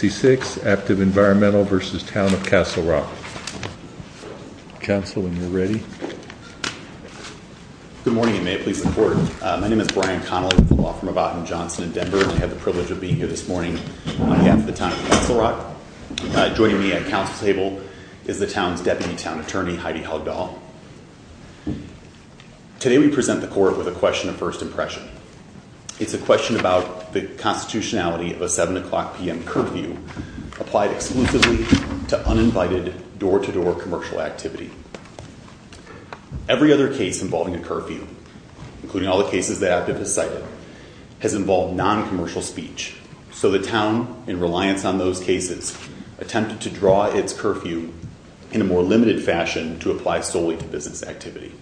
Aptive Environmental v. Town of Castle Rock. Council, when you're ready. Good morning, and may it please the Court. My name is Brian Connolly, with the Law Firm of Ottum & Johnson in Denver, and I have the privilege of being here this morning on behalf of the Town of Castle Rock. Joining me at Council table is the Town's Deputy Town Attorney, Heidi Huggdahl. Today we present the Court with a question of first impression. It's a question about the constitutionality of a 7 o'clock p.m. curfew applied exclusively to uninvited, door-to-door commercial activity. Every other case involving a curfew, including all the cases that Aptive has cited, has involved non-commercial speech. So the Town, in reliance on those cases, attempted to draw its curfew in a more limited fashion to apply solely to business activity.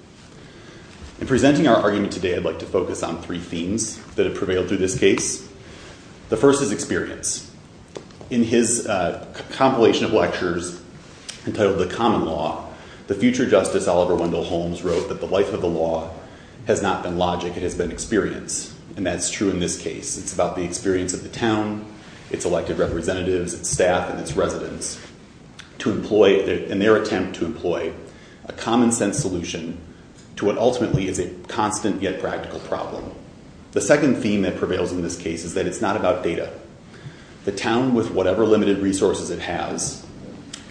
In presenting our argument today, I'd like to focus on three themes that have prevailed through this case. The first is experience. In his compilation of lectures entitled The Common Law, the future Justice Oliver Wendell Holmes wrote that the life of the law has not been logic, it has been experience. And that's true in this case. It's about the experience of the Town, its elected representatives, its staff, and its residents, in their attempt to employ a common-sense solution to what ultimately is a constant yet practical problem. The second theme that prevails in this case is that it's not about data. The Town, with whatever limited resources it has,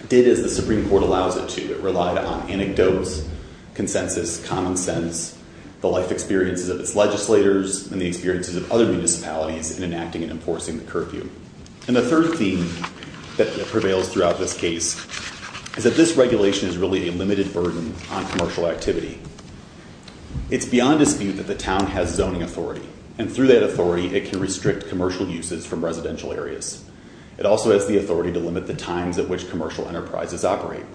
did as the Supreme Court allows it to. It relied on anecdotes, consensus, common sense, the life experiences of its legislators, and the experiences of other municipalities in enacting and enforcing the curfew. And the third theme that prevails throughout this case is that this regulation is really a limited burden on commercial activity. It's beyond dispute that the Town has zoning authority, and through that authority it can restrict commercial uses from residential areas. It also has the authority to limit the times at which commercial enterprises operate.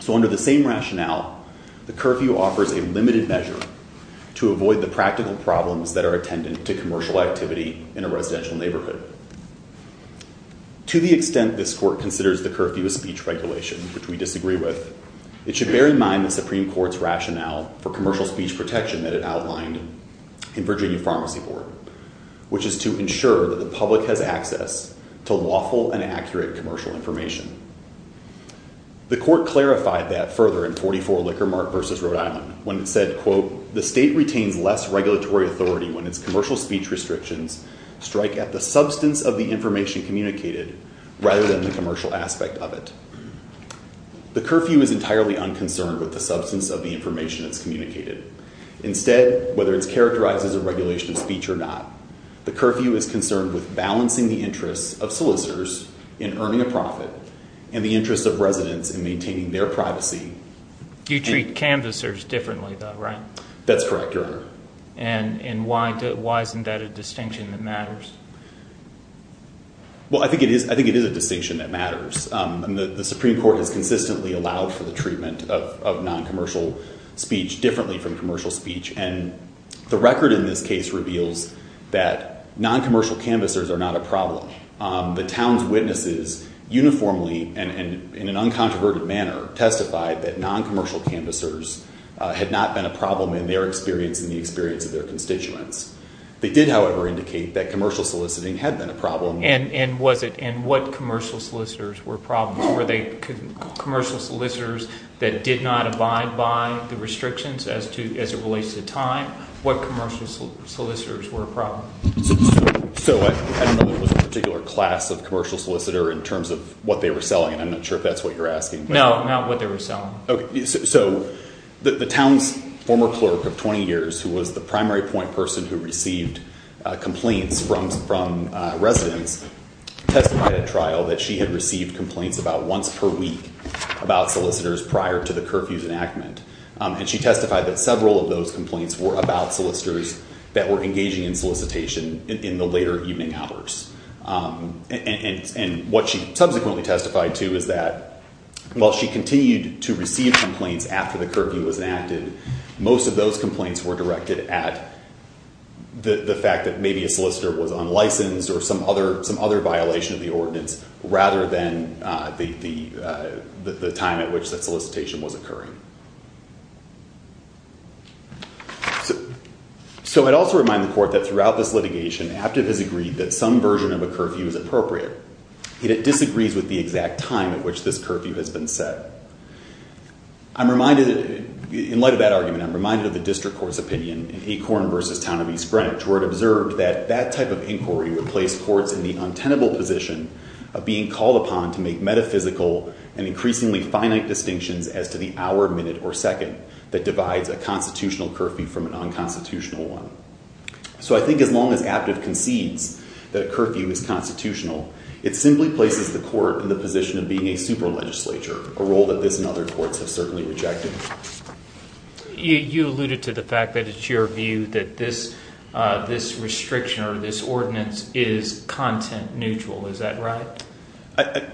So under the same rationale, the curfew offers a limited measure to avoid the practical problems that are attendant to commercial activity in a residential neighborhood. To the extent this Court considers the curfew a speech regulation, which we disagree with, it should bear in mind the Supreme Court's rationale for commercial speech protection that it outlined in Virginia Pharmacy Court, which is to ensure that the public has access to lawful and accurate commercial information. The Court clarified that further in 44 Liquor Mark v. Rhode Island, when it said, quote, the State retains less regulatory authority when its commercial speech restrictions strike at the substance of the information communicated rather than the commercial aspect of it. The curfew is entirely unconcerned with the substance of the information that's communicated. Instead, whether it's characterized as a regulation of speech or not, the curfew is concerned with balancing the interests of solicitors in earning a profit and the interests of residents in maintaining their privacy. You treat canvassers differently, though, right? That's correct, Your Honor. And why isn't that a distinction that matters? Well, I think it is a distinction that matters. The Supreme Court has consistently allowed for the treatment of noncommercial speech differently from commercial speech. And the record in this case reveals that noncommercial canvassers are not a problem. The town's witnesses uniformly and in an uncontroverted manner testified that noncommercial canvassers had not been a problem in their experience and the experience of their constituents. They did, however, indicate that commercial soliciting had been a problem. And what commercial solicitors were problems? Were they commercial solicitors that did not abide by the restrictions as it relates to time? What commercial solicitors were a problem? So, I don't know if there was a particular class of commercial solicitor in terms of what they were selling. I'm not sure if that's what you're asking. No, not what they were selling. So, the town's former clerk of 20 years who was the primary point person who received complaints from residents testified at trial that she had received complaints about once per week about solicitors prior to the curfew's enactment. And she testified that several of those complaints were about solicitors that were engaging in solicitation in the later evening hours. And what she subsequently testified to is that while she continued to receive complaints after the curfew was enacted, most of those complaints were directed at the fact that maybe a solicitor was unlicensed or some other violation of the ordinance So, I'd also remind the court that throughout this litigation, Aptiv has agreed that some version of a curfew is appropriate. Yet it disagrees with the exact time at which this curfew has been set. I'm reminded, in light of that argument, I'm reminded of the district court's opinion in Acorn v. Town of East Greenwich where it observed that that type of inquiry would place courts in the untenable position of being called upon to make metaphysical and increasingly finite distinctions as to the hour, minute, or second that divides a constitutional curfew from a non-constitutional one. So I think as long as Aptiv concedes that a curfew is constitutional, it simply places the court in the position of being a super-legislature, a role that this and other courts have certainly rejected. You alluded to the fact that it's your view that this restriction or this ordinance is content-neutral, is that right?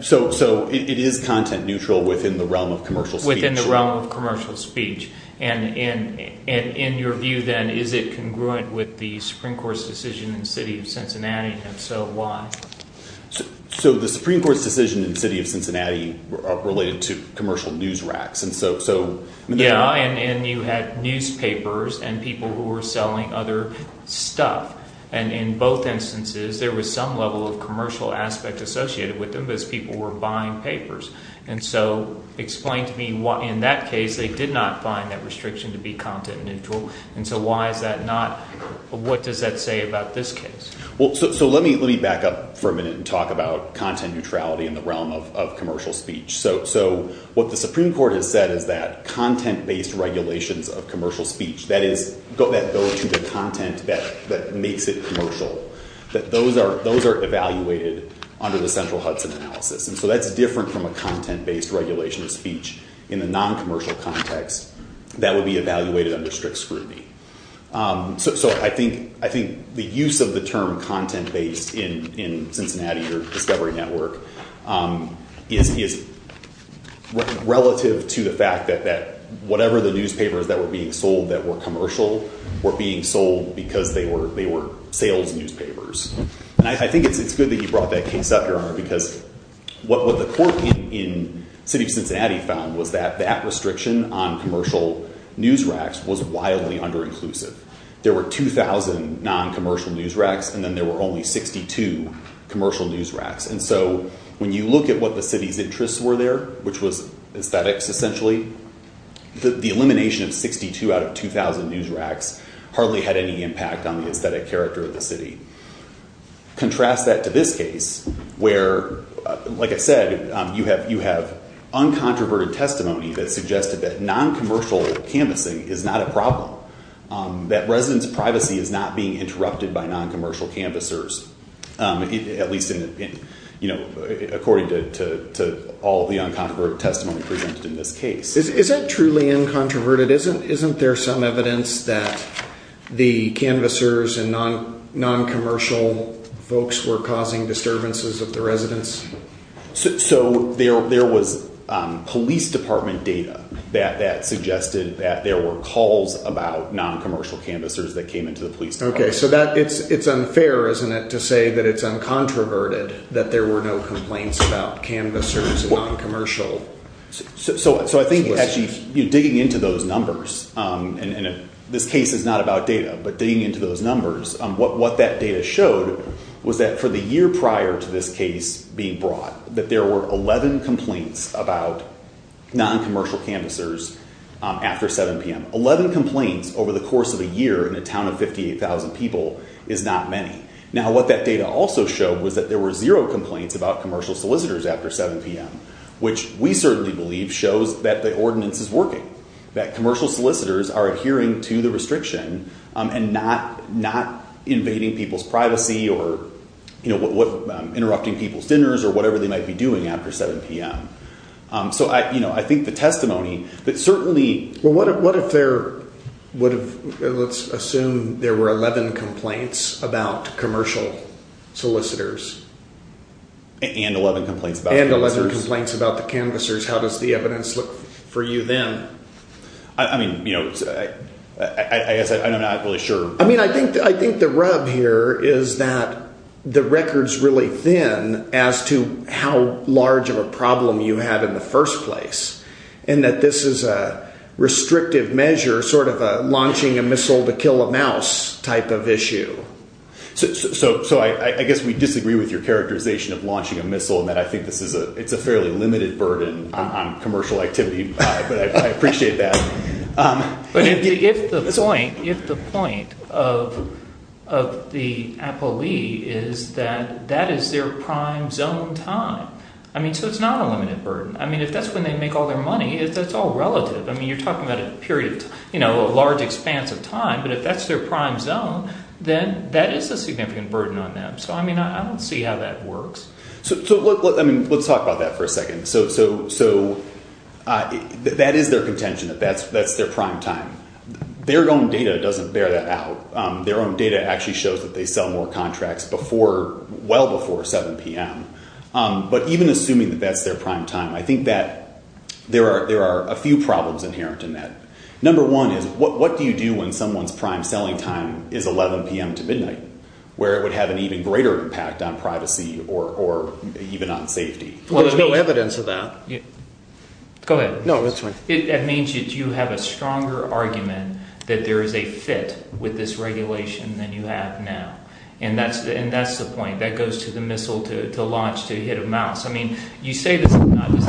So it is content-neutral within the realm of commercial speech. Within the realm of commercial speech. And in your view then, is it congruent with the Supreme Court's decision in the city of Cincinnati, and if so, why? So the Supreme Court's decision in the city of Cincinnati related to commercial news racks. Yeah, and you had newspapers and people who were selling other stuff. And in both instances, there was some level of commercial aspect associated with them as people were buying papers. And so explain to me why in that case they did not find that restriction to be content-neutral, and so why is that not, what does that say about this case? So let me back up for a minute and talk about content neutrality in the realm of commercial speech. So what the Supreme Court has said is that content-based regulations of commercial speech, that is, that go to the content that makes it commercial, that those are evaluated under the central Hudson analysis. And so that's different from a content-based regulation of speech in the non-commercial context that would be evaluated under strict scrutiny. So I think the use of the term content-based in Cincinnati or Discovery Network is relative to the fact that whatever the newspapers that were being sold that were commercial were being sold because they were sales newspapers. And I think it's good that you brought that case up, Your Honor, because what the court in the city of Cincinnati found was that that restriction on commercial news racks was wildly under-inclusive. There were 2,000 non-commercial news racks, and then there were only 62 commercial news racks. And so when you look at what the city's interests were there, which was aesthetics essentially, the elimination of 62 out of 2,000 news racks hardly had any impact on the aesthetic character of the city. Contrast that to this case where, like I said, you have uncontroverted testimony that suggested that non-commercial canvassing is not a problem, that residents' privacy is not being interrupted by non-commercial canvassers, at least according to all the uncontroverted testimony presented in this case. Is that truly uncontroverted? Isn't there some evidence that the canvassers and non-commercial folks were causing disturbances of the residents? So there was police department data that suggested that there were calls about non-commercial canvassers that came into the police department. Okay, so it's unfair, isn't it, to say that it's uncontroverted that there were no complaints about canvassers and non-commercial. So I think actually digging into those numbers, and this case is not about data, but digging into those numbers, what that data showed was that for the year prior to this case being brought, that there were 11 complaints about non-commercial canvassers after 7 p.m. 11 complaints over the course of a year in a town of 58,000 people is not many. Now what that data also showed was that there were zero complaints about commercial solicitors after 7 p.m., which we certainly believe shows that the ordinance is working, that commercial solicitors are adhering to the restriction and not invading people's privacy or interrupting people's dinners or whatever they might be doing after 7 p.m. So I think the testimony that certainly… Let's assume there were 11 complaints about commercial solicitors. And 11 complaints about the canvassers. And 11 complaints about the canvassers. How does the evidence look for you then? I mean, you know, I guess I'm not really sure. I mean, I think the rub here is that the record's really thin as to how large of a problem you had in the first place and that this is a restrictive measure, sort of a launching a missile to kill a mouse type of issue. So I guess we disagree with your characterization of launching a missile and that I think it's a fairly limited burden on commercial activity. But I appreciate that. But if the point of the appellee is that that is their prime zone time. I mean, so it's not a limited burden. I mean, if that's when they make all their money, that's all relative. I mean, you're talking about a period, you know, a large expanse of time. But if that's their prime zone, then that is a significant burden on them. So, I mean, I don't see how that works. So let's talk about that for a second. So that is their contention that that's their prime time. Their own data doesn't bear that out. Their own data actually shows that they sell more contracts well before 7 p.m. But even assuming that that's their prime time, I think that there are a few problems inherent in that. Number one is what do you do when someone's prime selling time is 11 p.m. to midnight, where it would have an even greater impact on privacy or even on safety? Well, there's no evidence of that. Go ahead. No, that's fine. It means that you have a stronger argument that there is a fit with this regulation than you have now. And that's the point. That goes to the missile to launch, to hit a mouse. I mean, you say this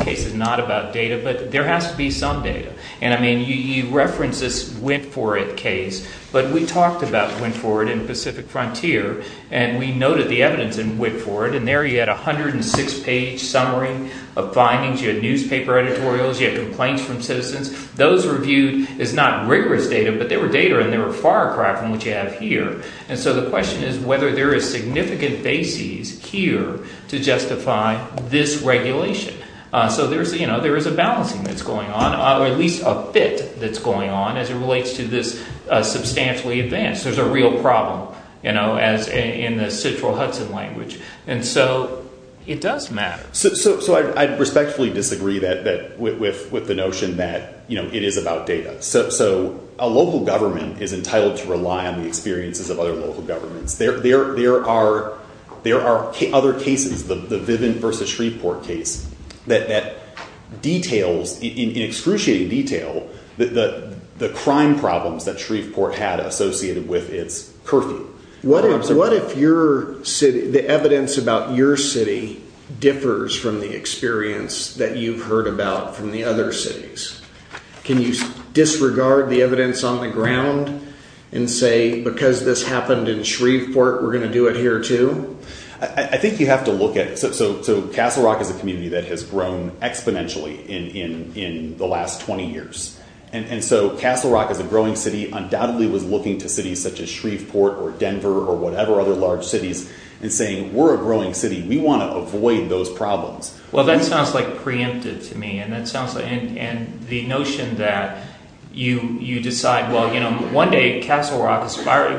case is not about data, but there has to be some data. And, I mean, you reference this WIPFORIT case, but we talked about WIPFORIT in Pacific Frontier, and we noted the evidence in WIPFORIT, and there you had 106-page summary of findings. You had newspaper editorials. You had complaints from citizens. Those were viewed as not rigorous data, but they were data, and they were far apart from what you have here. And so the question is whether there is significant basis here to justify this regulation. So there is a balancing that's going on, or at least a fit that's going on, as it relates to this substantially advanced. There's a real problem, you know, in the Citral Hudson language. And so it does matter. So I respectfully disagree with the notion that it is about data. So a local government is entitled to rely on the experiences of other local governments. There are other cases, the Viven versus Shreveport case, that details in excruciating detail the crime problems that Shreveport had associated with its curfew. What if the evidence about your city differs from the experience that you've heard about from the other cities? Can you disregard the evidence on the ground and say, because this happened in Shreveport, we're going to do it here too? I think you have to look at it. So Castle Rock is a community that has grown exponentially in the last 20 years. And so Castle Rock is a growing city. Undoubtedly was looking to cities such as Shreveport or Denver or whatever other large cities and saying, we're a growing city. We want to avoid those problems. Well, that sounds like preemptive to me. And the notion that you decide, well, one day Castle Rock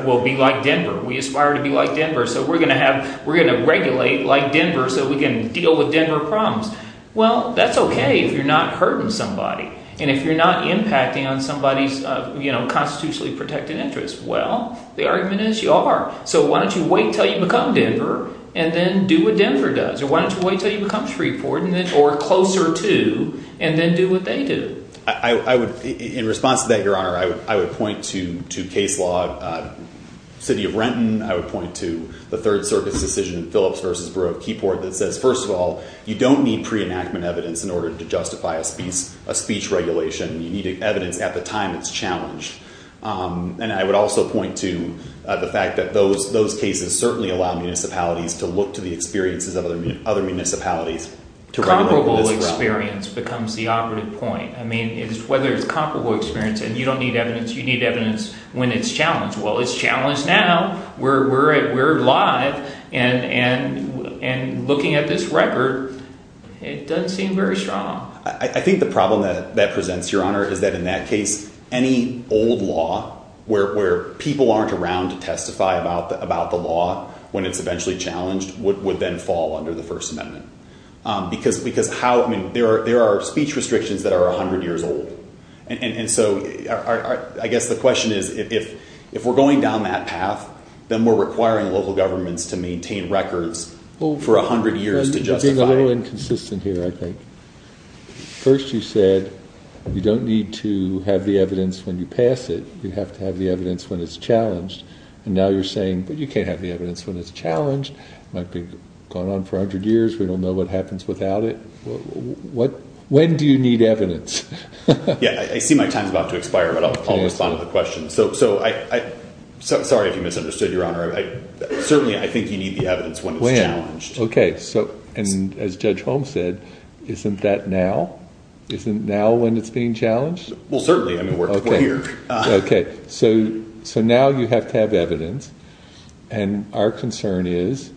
will be like Denver. We aspire to be like Denver. So we're going to regulate like Denver so we can deal with Denver problems. Well, that's OK if you're not hurting somebody. And if you're not impacting on somebody's constitutionally protected interest, well, the argument is you are. So why don't you wait until you become Denver and then do what Denver does? Or why don't you wait until you become Shreveport or closer to and then do what they do? In response to that, Your Honor, I would point to case law. City of Renton, I would point to the Third Circuit's decision in Phillips v. Bureau of Keyport that says, first of all, you don't need pre-enactment evidence in order to justify a speech regulation. You need evidence at the time it's challenged. And I would also point to the fact that those cases certainly allow municipalities to look to the experiences of other municipalities. Comparable experience becomes the operative point. I mean, whether it's comparable experience and you don't need evidence, you need evidence when it's challenged. Well, it's challenged now. We're live. And looking at this record, it doesn't seem very strong. I think the problem that presents, Your Honor, is that in that case, any old law where people aren't around to testify about the law when it's eventually challenged would then fall under the First Amendment. Because there are speech restrictions that are 100 years old. And so I guess the question is if we're going down that path, then we're requiring local governments to maintain records for 100 years to justify it. I'm inconsistent here, I think. First, you said you don't need to have the evidence when you pass it. You have to have the evidence when it's challenged. And now you're saying, but you can't have the evidence when it's challenged. It might be going on for 100 years. We don't know what happens without it. When do you need evidence? Yeah, I see my time is about to expire, but I'll respond to the question. So I'm sorry if you misunderstood, Your Honor. Certainly, I think you need the evidence when it's challenged. Okay. And as Judge Holmes said, isn't that now? Isn't now when it's being challenged? Well, certainly. I mean, we're here. Okay. So now you have to have evidence. And our concern is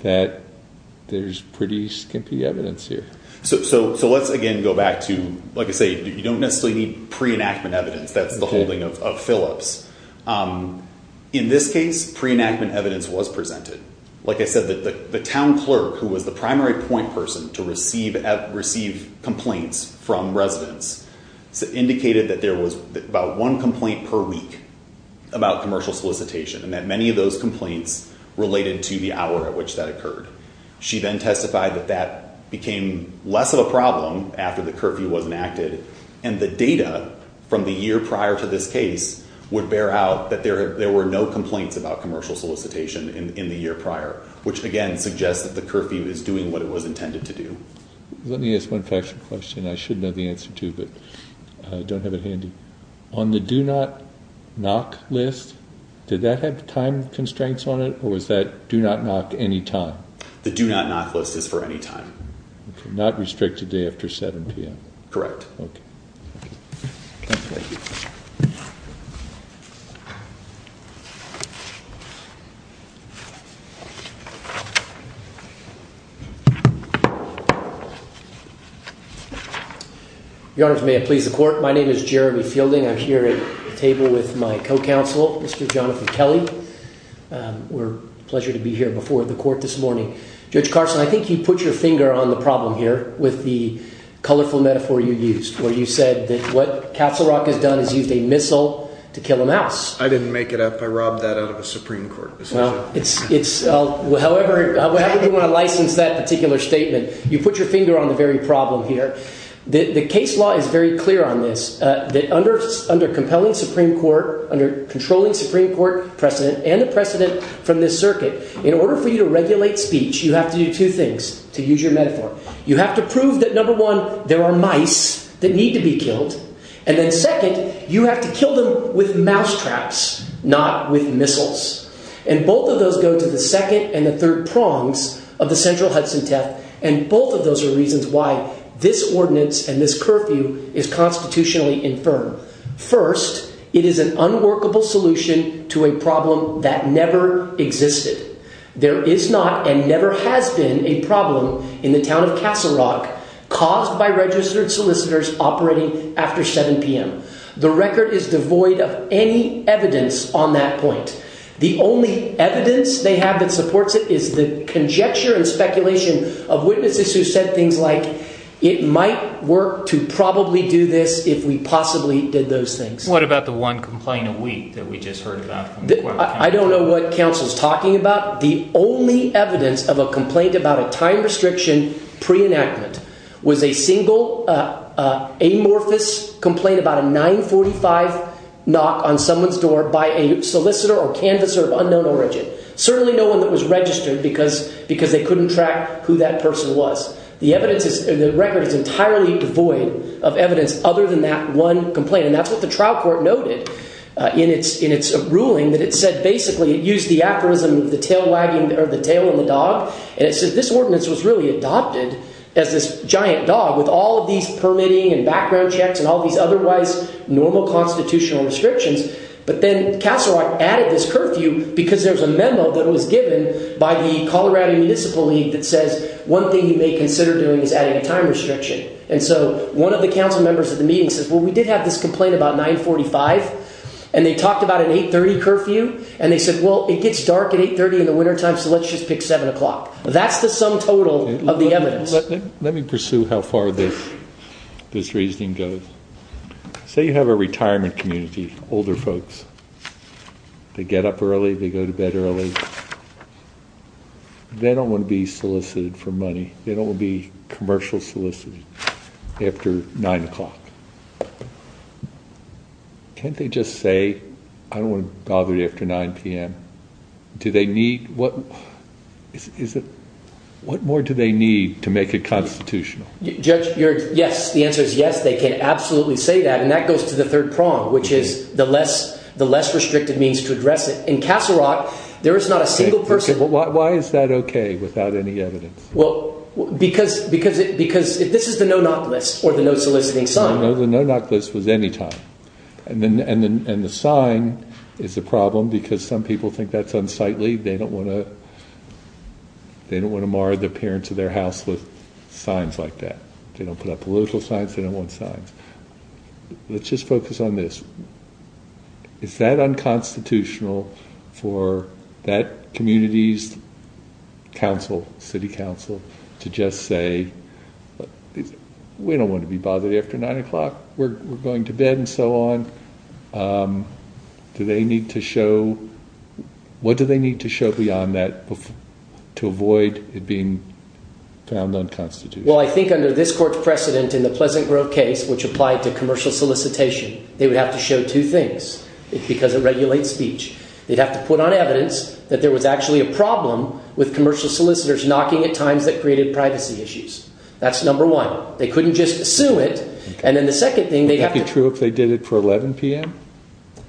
that there's pretty skimpy evidence here. So let's, again, go back to, like I say, you don't necessarily need pre-enactment evidence. That's the holding of Phillips. In this case, pre-enactment evidence was presented. Like I said, the town clerk, who was the primary point person to receive complaints from residents, indicated that there was about one complaint per week about commercial solicitation and that many of those complaints related to the hour at which that occurred. She then testified that that became less of a problem after the curfew was enacted and the data from the year prior to this case would bear out that there were no complaints about commercial solicitation in the year prior, which, again, suggests that the curfew is doing what it was intended to do. Let me ask one question. I should know the answer to, but I don't have it handy. On the do not knock list, did that have time constraints on it, or was that do not knock any time? The do not knock list is for any time. Not restricted to after 7 p.m.? Correct. Okay. Thank you. Your Honor, may it please the court, my name is Jeremy Fielding. I'm here at the table with my co-counsel, Mr. Jonathan Kelly. We're pleasured to be here before the court this morning. Judge Carson, I think you put your finger on the problem here with the colorful metaphor you used. Where you said that what Castle Rock has done is used a missile to kill a mouse. I didn't make it up. I robbed that out of a Supreme Court decision. Well, however you want to license that particular statement, you put your finger on the very problem here. The case law is very clear on this. That under compelling Supreme Court, under controlling Supreme Court precedent, and the precedent from this circuit, in order for you to regulate speech, you have to do two things, to use your metaphor. You have to prove that, number one, there are mice that need to be killed. And then second, you have to kill them with mousetraps, not with missiles. And both of those go to the second and the third prongs of the central Hudson theft. And both of those are reasons why this ordinance and this curfew is constitutionally infirm. First, it is an unworkable solution to a problem that never existed. There is not and never has been a problem in the town of Castle Rock caused by registered solicitors operating after 7 p.m. The record is devoid of any evidence on that point. The only evidence they have that supports it is the conjecture and speculation of witnesses who said things like, it might work to probably do this if we possibly did those things. What about the one complaint a week that we just heard about? I don't know what counsel is talking about. The only evidence of a complaint about a time restriction pre-enactment was a single amorphous complaint about a 945 knock on someone's door by a solicitor or canvasser of unknown origin. Certainly no one that was registered because they couldn't track who that person was. The record is entirely devoid of evidence other than that one complaint. That's what the trial court noted in its ruling that it said basically it used the aphorism of the tail wagging or the tail of the dog. It says this ordinance was really adopted as this giant dog with all of these permitting and background checks and all these otherwise normal constitutional restrictions. But then Castle Rock added this curfew because there's a memo that was given by the Colorado Municipal League that says, one thing you may consider doing is adding a time restriction. And so one of the council members at the meeting says, well, we did have this complaint about 945. And they talked about an 830 curfew. And they said, well, it gets dark at 830 in the wintertime. So let's just pick seven o'clock. That's the sum total of the evidence. Let me pursue how far this this reasoning goes. So you have a retirement community, older folks. They get up early. They go to bed early. They don't want to be solicited for money. They don't want to be commercial solicited after nine o'clock. Can't they just say, I don't want to bother you after 9 p.m.? Do they need what is it? What more do they need to make it constitutional? Judge, you're yes. The answer is yes. They can absolutely say that. And that goes to the third prong, which is the less the less restrictive means to address it in Castle Rock. There is not a single person. Why is that OK without any evidence? Well, because because because this is the no not list or the no soliciting sign. No, no, no, not this was any time. And then and then and the sign is a problem because some people think that's unsightly. They don't want to. They don't want to mar the parents of their house with signs like that. They don't put up political signs. They don't want signs. Let's just focus on this. Is that unconstitutional for that communities? Council City Council to just say we don't want to be bothered after 9 o'clock. We're going to bed and so on. Do they need to show what do they need to show beyond that to avoid it being found unconstitutional? Well, I think under this court precedent in the Pleasant Grove case, which applied to commercial solicitation, they would have to show two things because it regulates speech. They'd have to put on evidence that there was actually a problem with commercial solicitors knocking at times that created privacy issues. That's number one. They couldn't just assume it. And then the second thing they have to true if they did it for 11 p.m.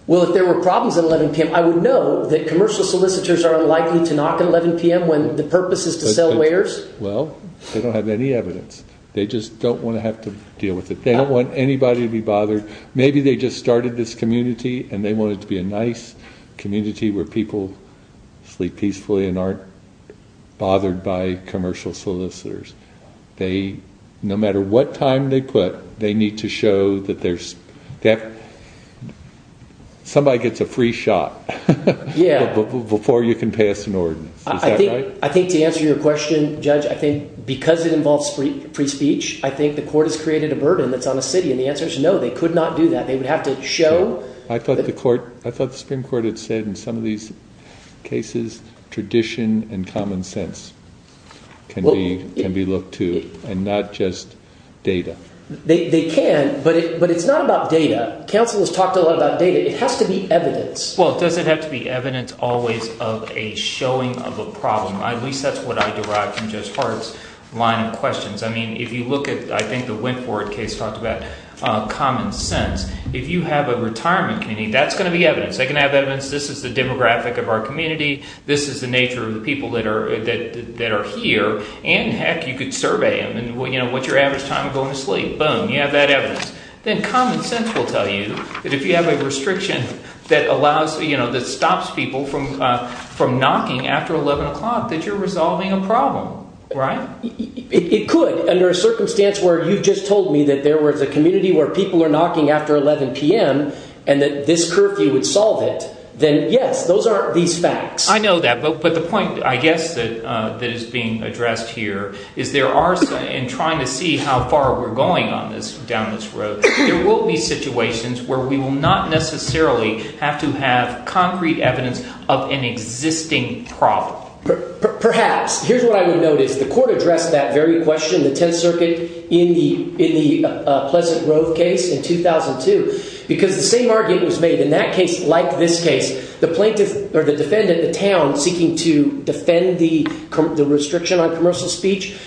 Well, if there were problems at 11 p.m., I would know that commercial solicitors are unlikely to knock at 11 p.m. when the purpose is to sell layers. Well, they don't have any evidence. They just don't want to have to deal with it. They don't want anybody to be bothered. Maybe they just started this community and they wanted to be a nice community where people sleep peacefully and aren't bothered by commercial solicitors. They no matter what time they put, they need to show that there's somebody gets a free shot before you can pass an ordinance. I think to answer your question, Judge, I think because it involves free speech, I think the court has created a burden that's on the city. And the answer is no, they could not do that. They would have to show. I thought the Supreme Court had said in some of these cases tradition and common sense can be looked to and not just data. They can, but it's not about data. Counsel has talked a lot about data. It has to be evidence. Well, does it have to be evidence always of a showing of a problem? At least that's what I derived from Judge Hart's line of questions. I mean if you look at – I think the Wentworth case talked about common sense. If you have a retirement community, that's going to be evidence. They can have evidence. This is the demographic of our community. This is the nature of the people that are here, and heck, you could survey them. What's your average time of going to sleep? Boom, you have that evidence. Then common sense will tell you that if you have a restriction that stops people from knocking after 11 o'clock that you're resolving a problem, right? It could. Under a circumstance where you just told me that there was a community where people are knocking after 11 p.m. and that this curfew would solve it, then yes, those are these facts. I know that. But the point I guess that is being addressed here is there are – in trying to see how far we're going on this down this road, there will be situations where we will not necessarily have to have concrete evidence of an existing problem. Perhaps. Here's what I would note is the court addressed that very question, the Tenth Circuit, in the Pleasant Grove case in 2002 because the same argument was made. In that case, like this case, the defendant, the town, seeking to defend the restriction on commercial speech,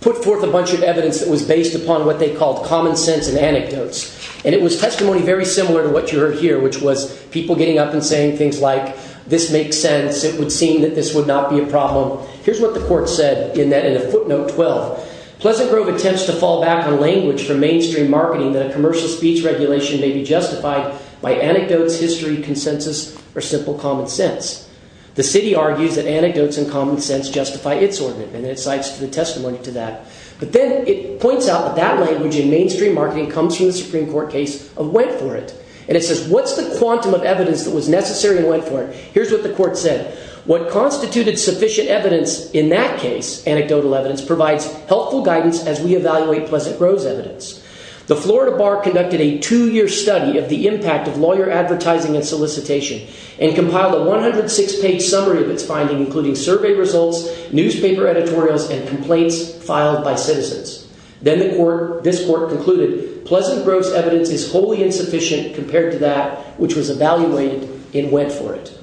put forth a bunch of evidence that was based upon what they called common sense and anecdotes. And it was testimony very similar to what you heard here, which was people getting up and saying things like, this makes sense. It would seem that this would not be a problem. Here's what the court said in a footnote 12. Pleasant Grove attempts to fall back on language from mainstream marketing that a commercial speech regulation may be justified by anecdotes, history, consensus, or simple common sense. The city argues that anecdotes and common sense justify its ordinance. And it cites the testimony to that. But then it points out that that language in mainstream marketing comes from the Supreme Court case of Wentworth. And it says, what's the quantum of evidence that was necessary in Wentworth? Here's what the court said. What constituted sufficient evidence in that case, anecdotal evidence, provides helpful guidance as we evaluate Pleasant Grove's evidence. The Florida Bar conducted a two-year study of the impact of lawyer advertising and solicitation and compiled a 106-page summary of its findings, including survey results, newspaper editorials, and complaints filed by citizens. Then this court concluded Pleasant Grove's evidence is wholly insufficient compared to that which was evaluated in Wentworth.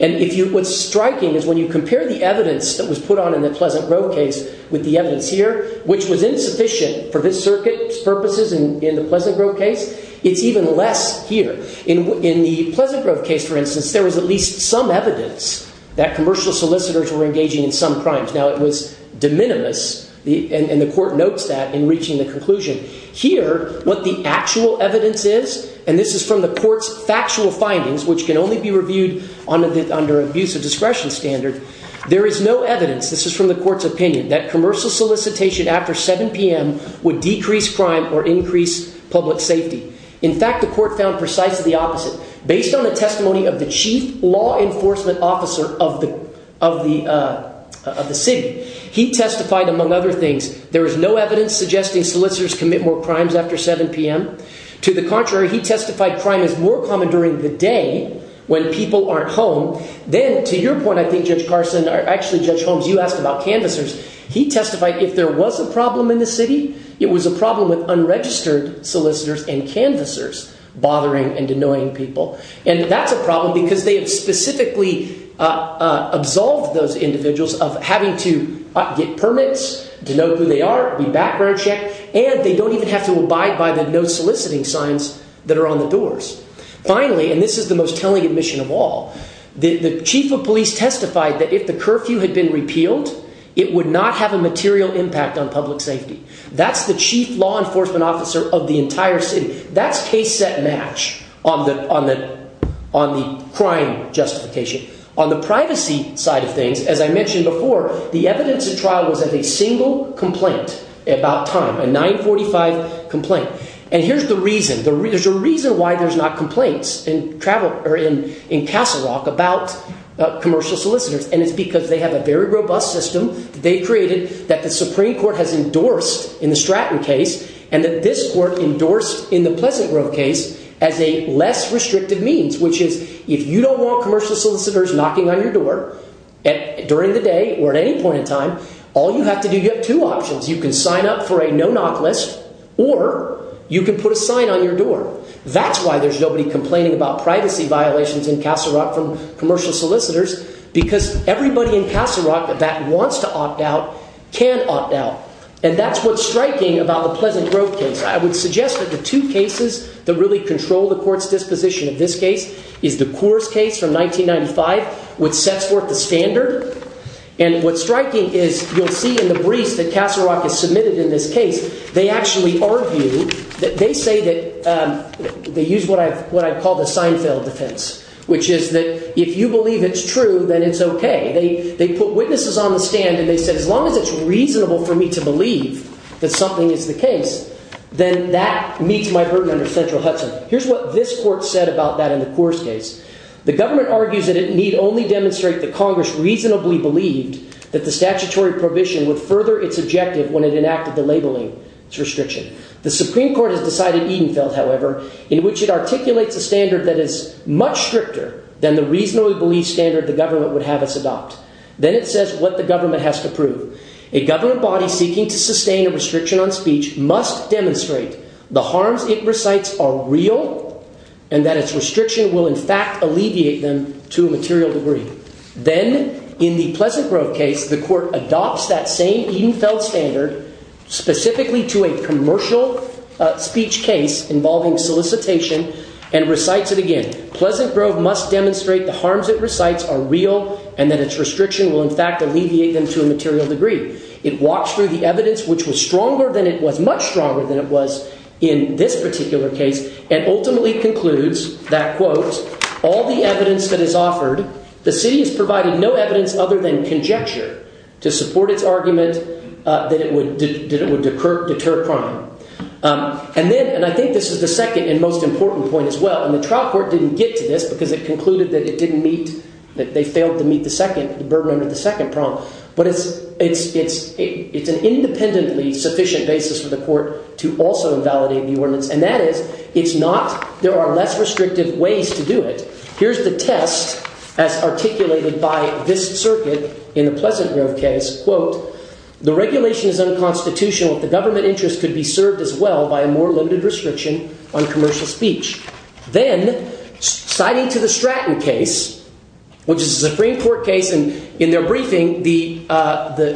And what's striking is when you compare the evidence that was put on in the Pleasant Grove case with the evidence here, which was insufficient for this circuit's purposes in the Pleasant Grove case, it's even less here. In the Pleasant Grove case, for instance, there was at least some evidence that commercial solicitors were engaging in some crimes. Now, it was de minimis, and the court notes that in reaching the conclusion. Here, what the actual evidence is, and this is from the court's factual findings, which can only be reviewed under abuse of discretion standard, there is no evidence, this is from the court's opinion, that commercial solicitation after 7 p.m. would decrease crime or increase public safety. In fact, the court found precisely the opposite. Based on the testimony of the chief law enforcement officer of the city, he testified, among other things, there is no evidence suggesting solicitors commit more crimes after 7 p.m. To the contrary, he testified crime is more common during the day when people aren't home. Then, to your point, I think Judge Carson, actually Judge Holmes, you asked about canvassers. He testified if there was a problem in the city, it was a problem with unregistered solicitors and canvassers bothering and annoying people. And that's a problem because they have specifically absolved those individuals of having to get permits, to know who they are, be background checked, and they don't even have to abide by the no soliciting signs that are on the doors. Finally, and this is the most telling admission of all, the chief of police testified that if the curfew had been repealed, it would not have a material impact on public safety. That's the chief law enforcement officer of the entire city. That's case set match on the crime justification. On the privacy side of things, as I mentioned before, the evidence at trial was a single complaint about time, a 945 complaint. And here's the reason. There's a reason why there's not complaints in Castle Rock about commercial solicitors. And it's because they have a very robust system that they created that the Supreme Court has endorsed in the Stratton case and that this court endorsed in the Pleasant Grove case as a less restrictive means, which is if you don't want commercial solicitors knocking on your door during the day or at any point in time, all you have to do, you have two options. You can sign up for a no knock list or you can put a sign on your door. That's why there's nobody complaining about privacy violations in Castle Rock from commercial solicitors, because everybody in Castle Rock that wants to opt out can opt out. And that's what's striking about the Pleasant Grove case. I would suggest that the two cases that really control the court's disposition of this case is the Coors case from 1995, which sets forth the standard. And what's striking is you'll see in the briefs that Castle Rock is submitted in this case. They actually argue that they say that they use what I what I call the Seinfeld defense, which is that if you believe it's true, then it's OK. They put witnesses on the stand and they said, as long as it's reasonable for me to believe that something is the case, then that meets my burden under central Hudson. Here's what this court said about that in the Coors case. The government argues that it need only demonstrate the Congress reasonably believed that the statutory prohibition would further its objective when it enacted the labeling restriction. The Supreme Court has decided even felt, however, in which it articulates a standard that is much stricter than the reasonably believed standard the government would have us adopt. Then it says what the government has to prove. A government body seeking to sustain a restriction on speech must demonstrate the harms it recites are real and that its restriction will, in fact, alleviate them to a material degree. Then in the Pleasant Grove case, the court adopts that same even felt standard specifically to a commercial speech case involving solicitation and recites it again. Pleasant Grove must demonstrate the harms it recites are real and that its restriction will, in fact, alleviate them to a material degree. It walks through the evidence which was stronger than it was, much stronger than it was in this particular case, and ultimately concludes that, quote, all the evidence that is offered, the city has provided no evidence other than conjecture to support its argument that it would deter crime. And then, and I think this is the second and most important point as well, and the trial court didn't get to this because it concluded that it didn't meet, that they failed to meet the second, the burden under the second prong. But it's an independently sufficient basis for the court to also invalidate the ordinance. And that is, it's not, there are less restrictive ways to do it. Here's the test as articulated by this circuit in the Pleasant Grove case, quote, the regulation is unconstitutional. The government interest could be served as well by a more limited restriction on commercial speech. Then citing to the Stratton case, which is a Supreme Court case, and in their briefing, the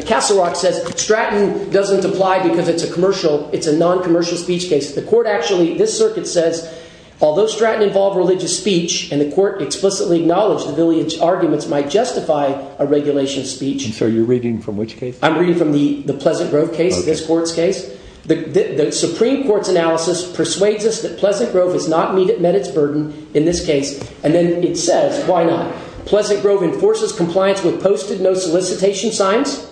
Castle Rock says Stratton doesn't apply because it's a commercial. It's a noncommercial speech case. The court actually, this circuit says, although Stratton involved religious speech and the court explicitly acknowledged the village arguments might justify a regulation speech. So you're reading from which case I'm reading from the Pleasant Grove case. The Supreme Court's analysis persuades us that Pleasant Grove has not met its burden in this case. And then it says, why not? Pleasant Grove enforces compliance with posted no solicitation signs.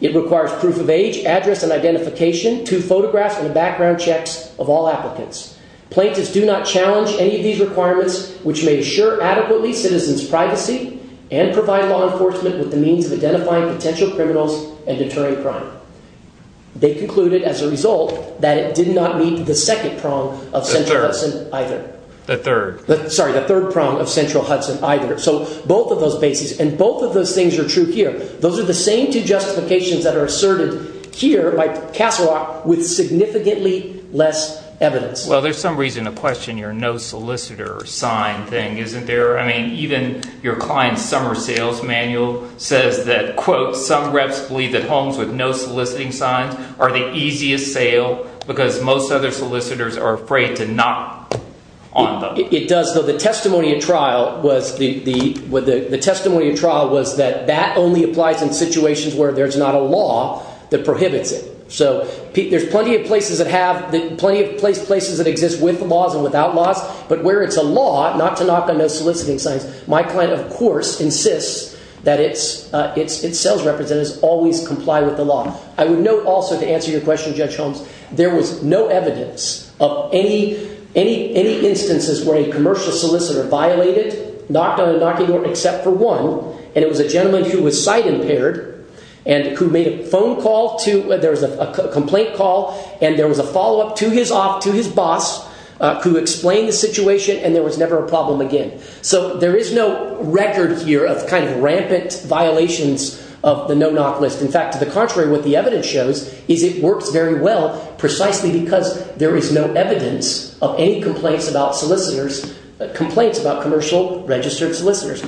It requires proof of age, address, and identification to photographs and background checks of all applicants. Plaintiffs do not challenge any of these requirements, which may assure adequately citizens' privacy and provide law enforcement with the means of identifying potential criminals and deterring crime. They concluded, as a result, that it did not meet the second prong of Central Hudson either. The third. Sorry, the third prong of Central Hudson either. So both of those bases and both of those things are true here. Those are the same two justifications that are asserted here by Castle Rock with significantly less evidence. Well, there's some reason to question your no solicitor sign thing, isn't there? I mean, even your client's summer sales manual says that, quote, some reps believe that homes with no soliciting signs are the easiest sale because most other solicitors are afraid to knock on them. It does, though. The testimony at trial was that that only applies in situations where there's not a law that prohibits it. So there's plenty of places that have plenty of places that exist with laws and without laws. But where it's a law not to knock on no soliciting signs, my client, of course, insists that its sales representatives always comply with the law. I would note also to answer your question, Judge Holmes, there was no evidence of any instances where a commercial solicitor violated, knocked on a knocking door except for one. And it was a gentleman who was sight impaired and who made a phone call to – there was a complaint call and there was a follow-up to his boss who explained the situation and there was never a problem again. So there is no record here of kind of rampant violations of the no-knock list. In fact, to the contrary, what the evidence shows is it works very well precisely because there is no evidence of any complaints about solicitors – complaints about commercial registered solicitors.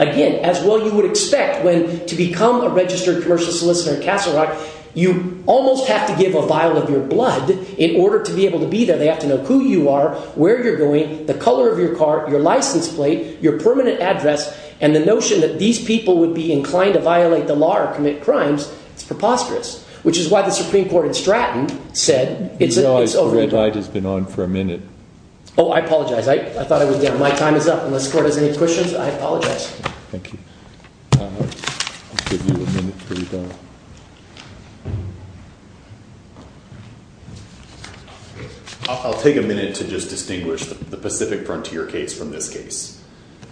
Again, as well you would expect when to become a registered commercial solicitor in Castle Rock, you almost have to give a vial of your blood in order to be able to be there. They have to know who you are, where you're going, the color of your car, your license plate, your permanent address. And the notion that these people would be inclined to violate the law or commit crimes is preposterous, which is why the Supreme Court in Stratton said – You know, the red light has been on for a minute. Oh, I apologize. I thought I would – yeah, my time is up. Unless the court has any questions, I apologize. Thank you. I'll give you a minute to respond. I'll take a minute to just distinguish the Pacific Frontier case from this case.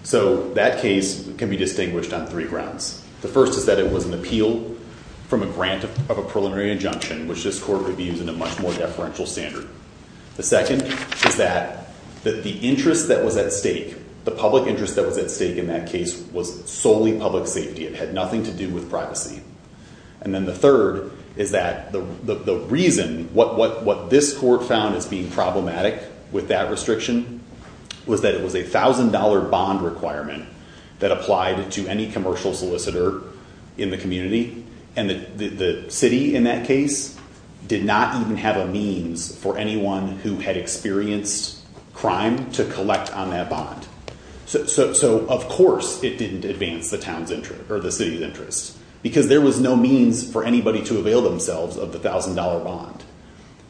So that case can be distinguished on three grounds. The first is that it was an appeal from a grant of a preliminary injunction, which this court would be using a much more deferential standard. The second is that the interest that was at stake, the public interest that was at stake in that case was solely public safety. It had nothing to do with privacy. And then the third is that the reason what this court found as being problematic with that restriction was that it was a $1,000 bond requirement that applied to any commercial solicitor in the community. And the city in that case did not even have a means for anyone who had experienced crime to collect on that bond. So, of course, it didn't advance the town's interest or the city's interest because there was no means for anybody to avail themselves of the $1,000 bond.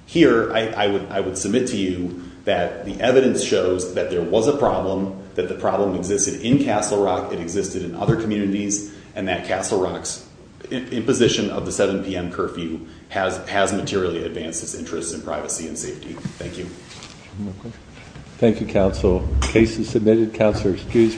Here, I would submit to you that the evidence shows that there was a problem, that the problem existed in Castle Rock, it existed in other communities, and that Castle Rock's imposition of the 7 p.m. curfew has materially advanced its interest in privacy and safety. Thank you. Thank you, counsel. The case is submitted. Counselors, please.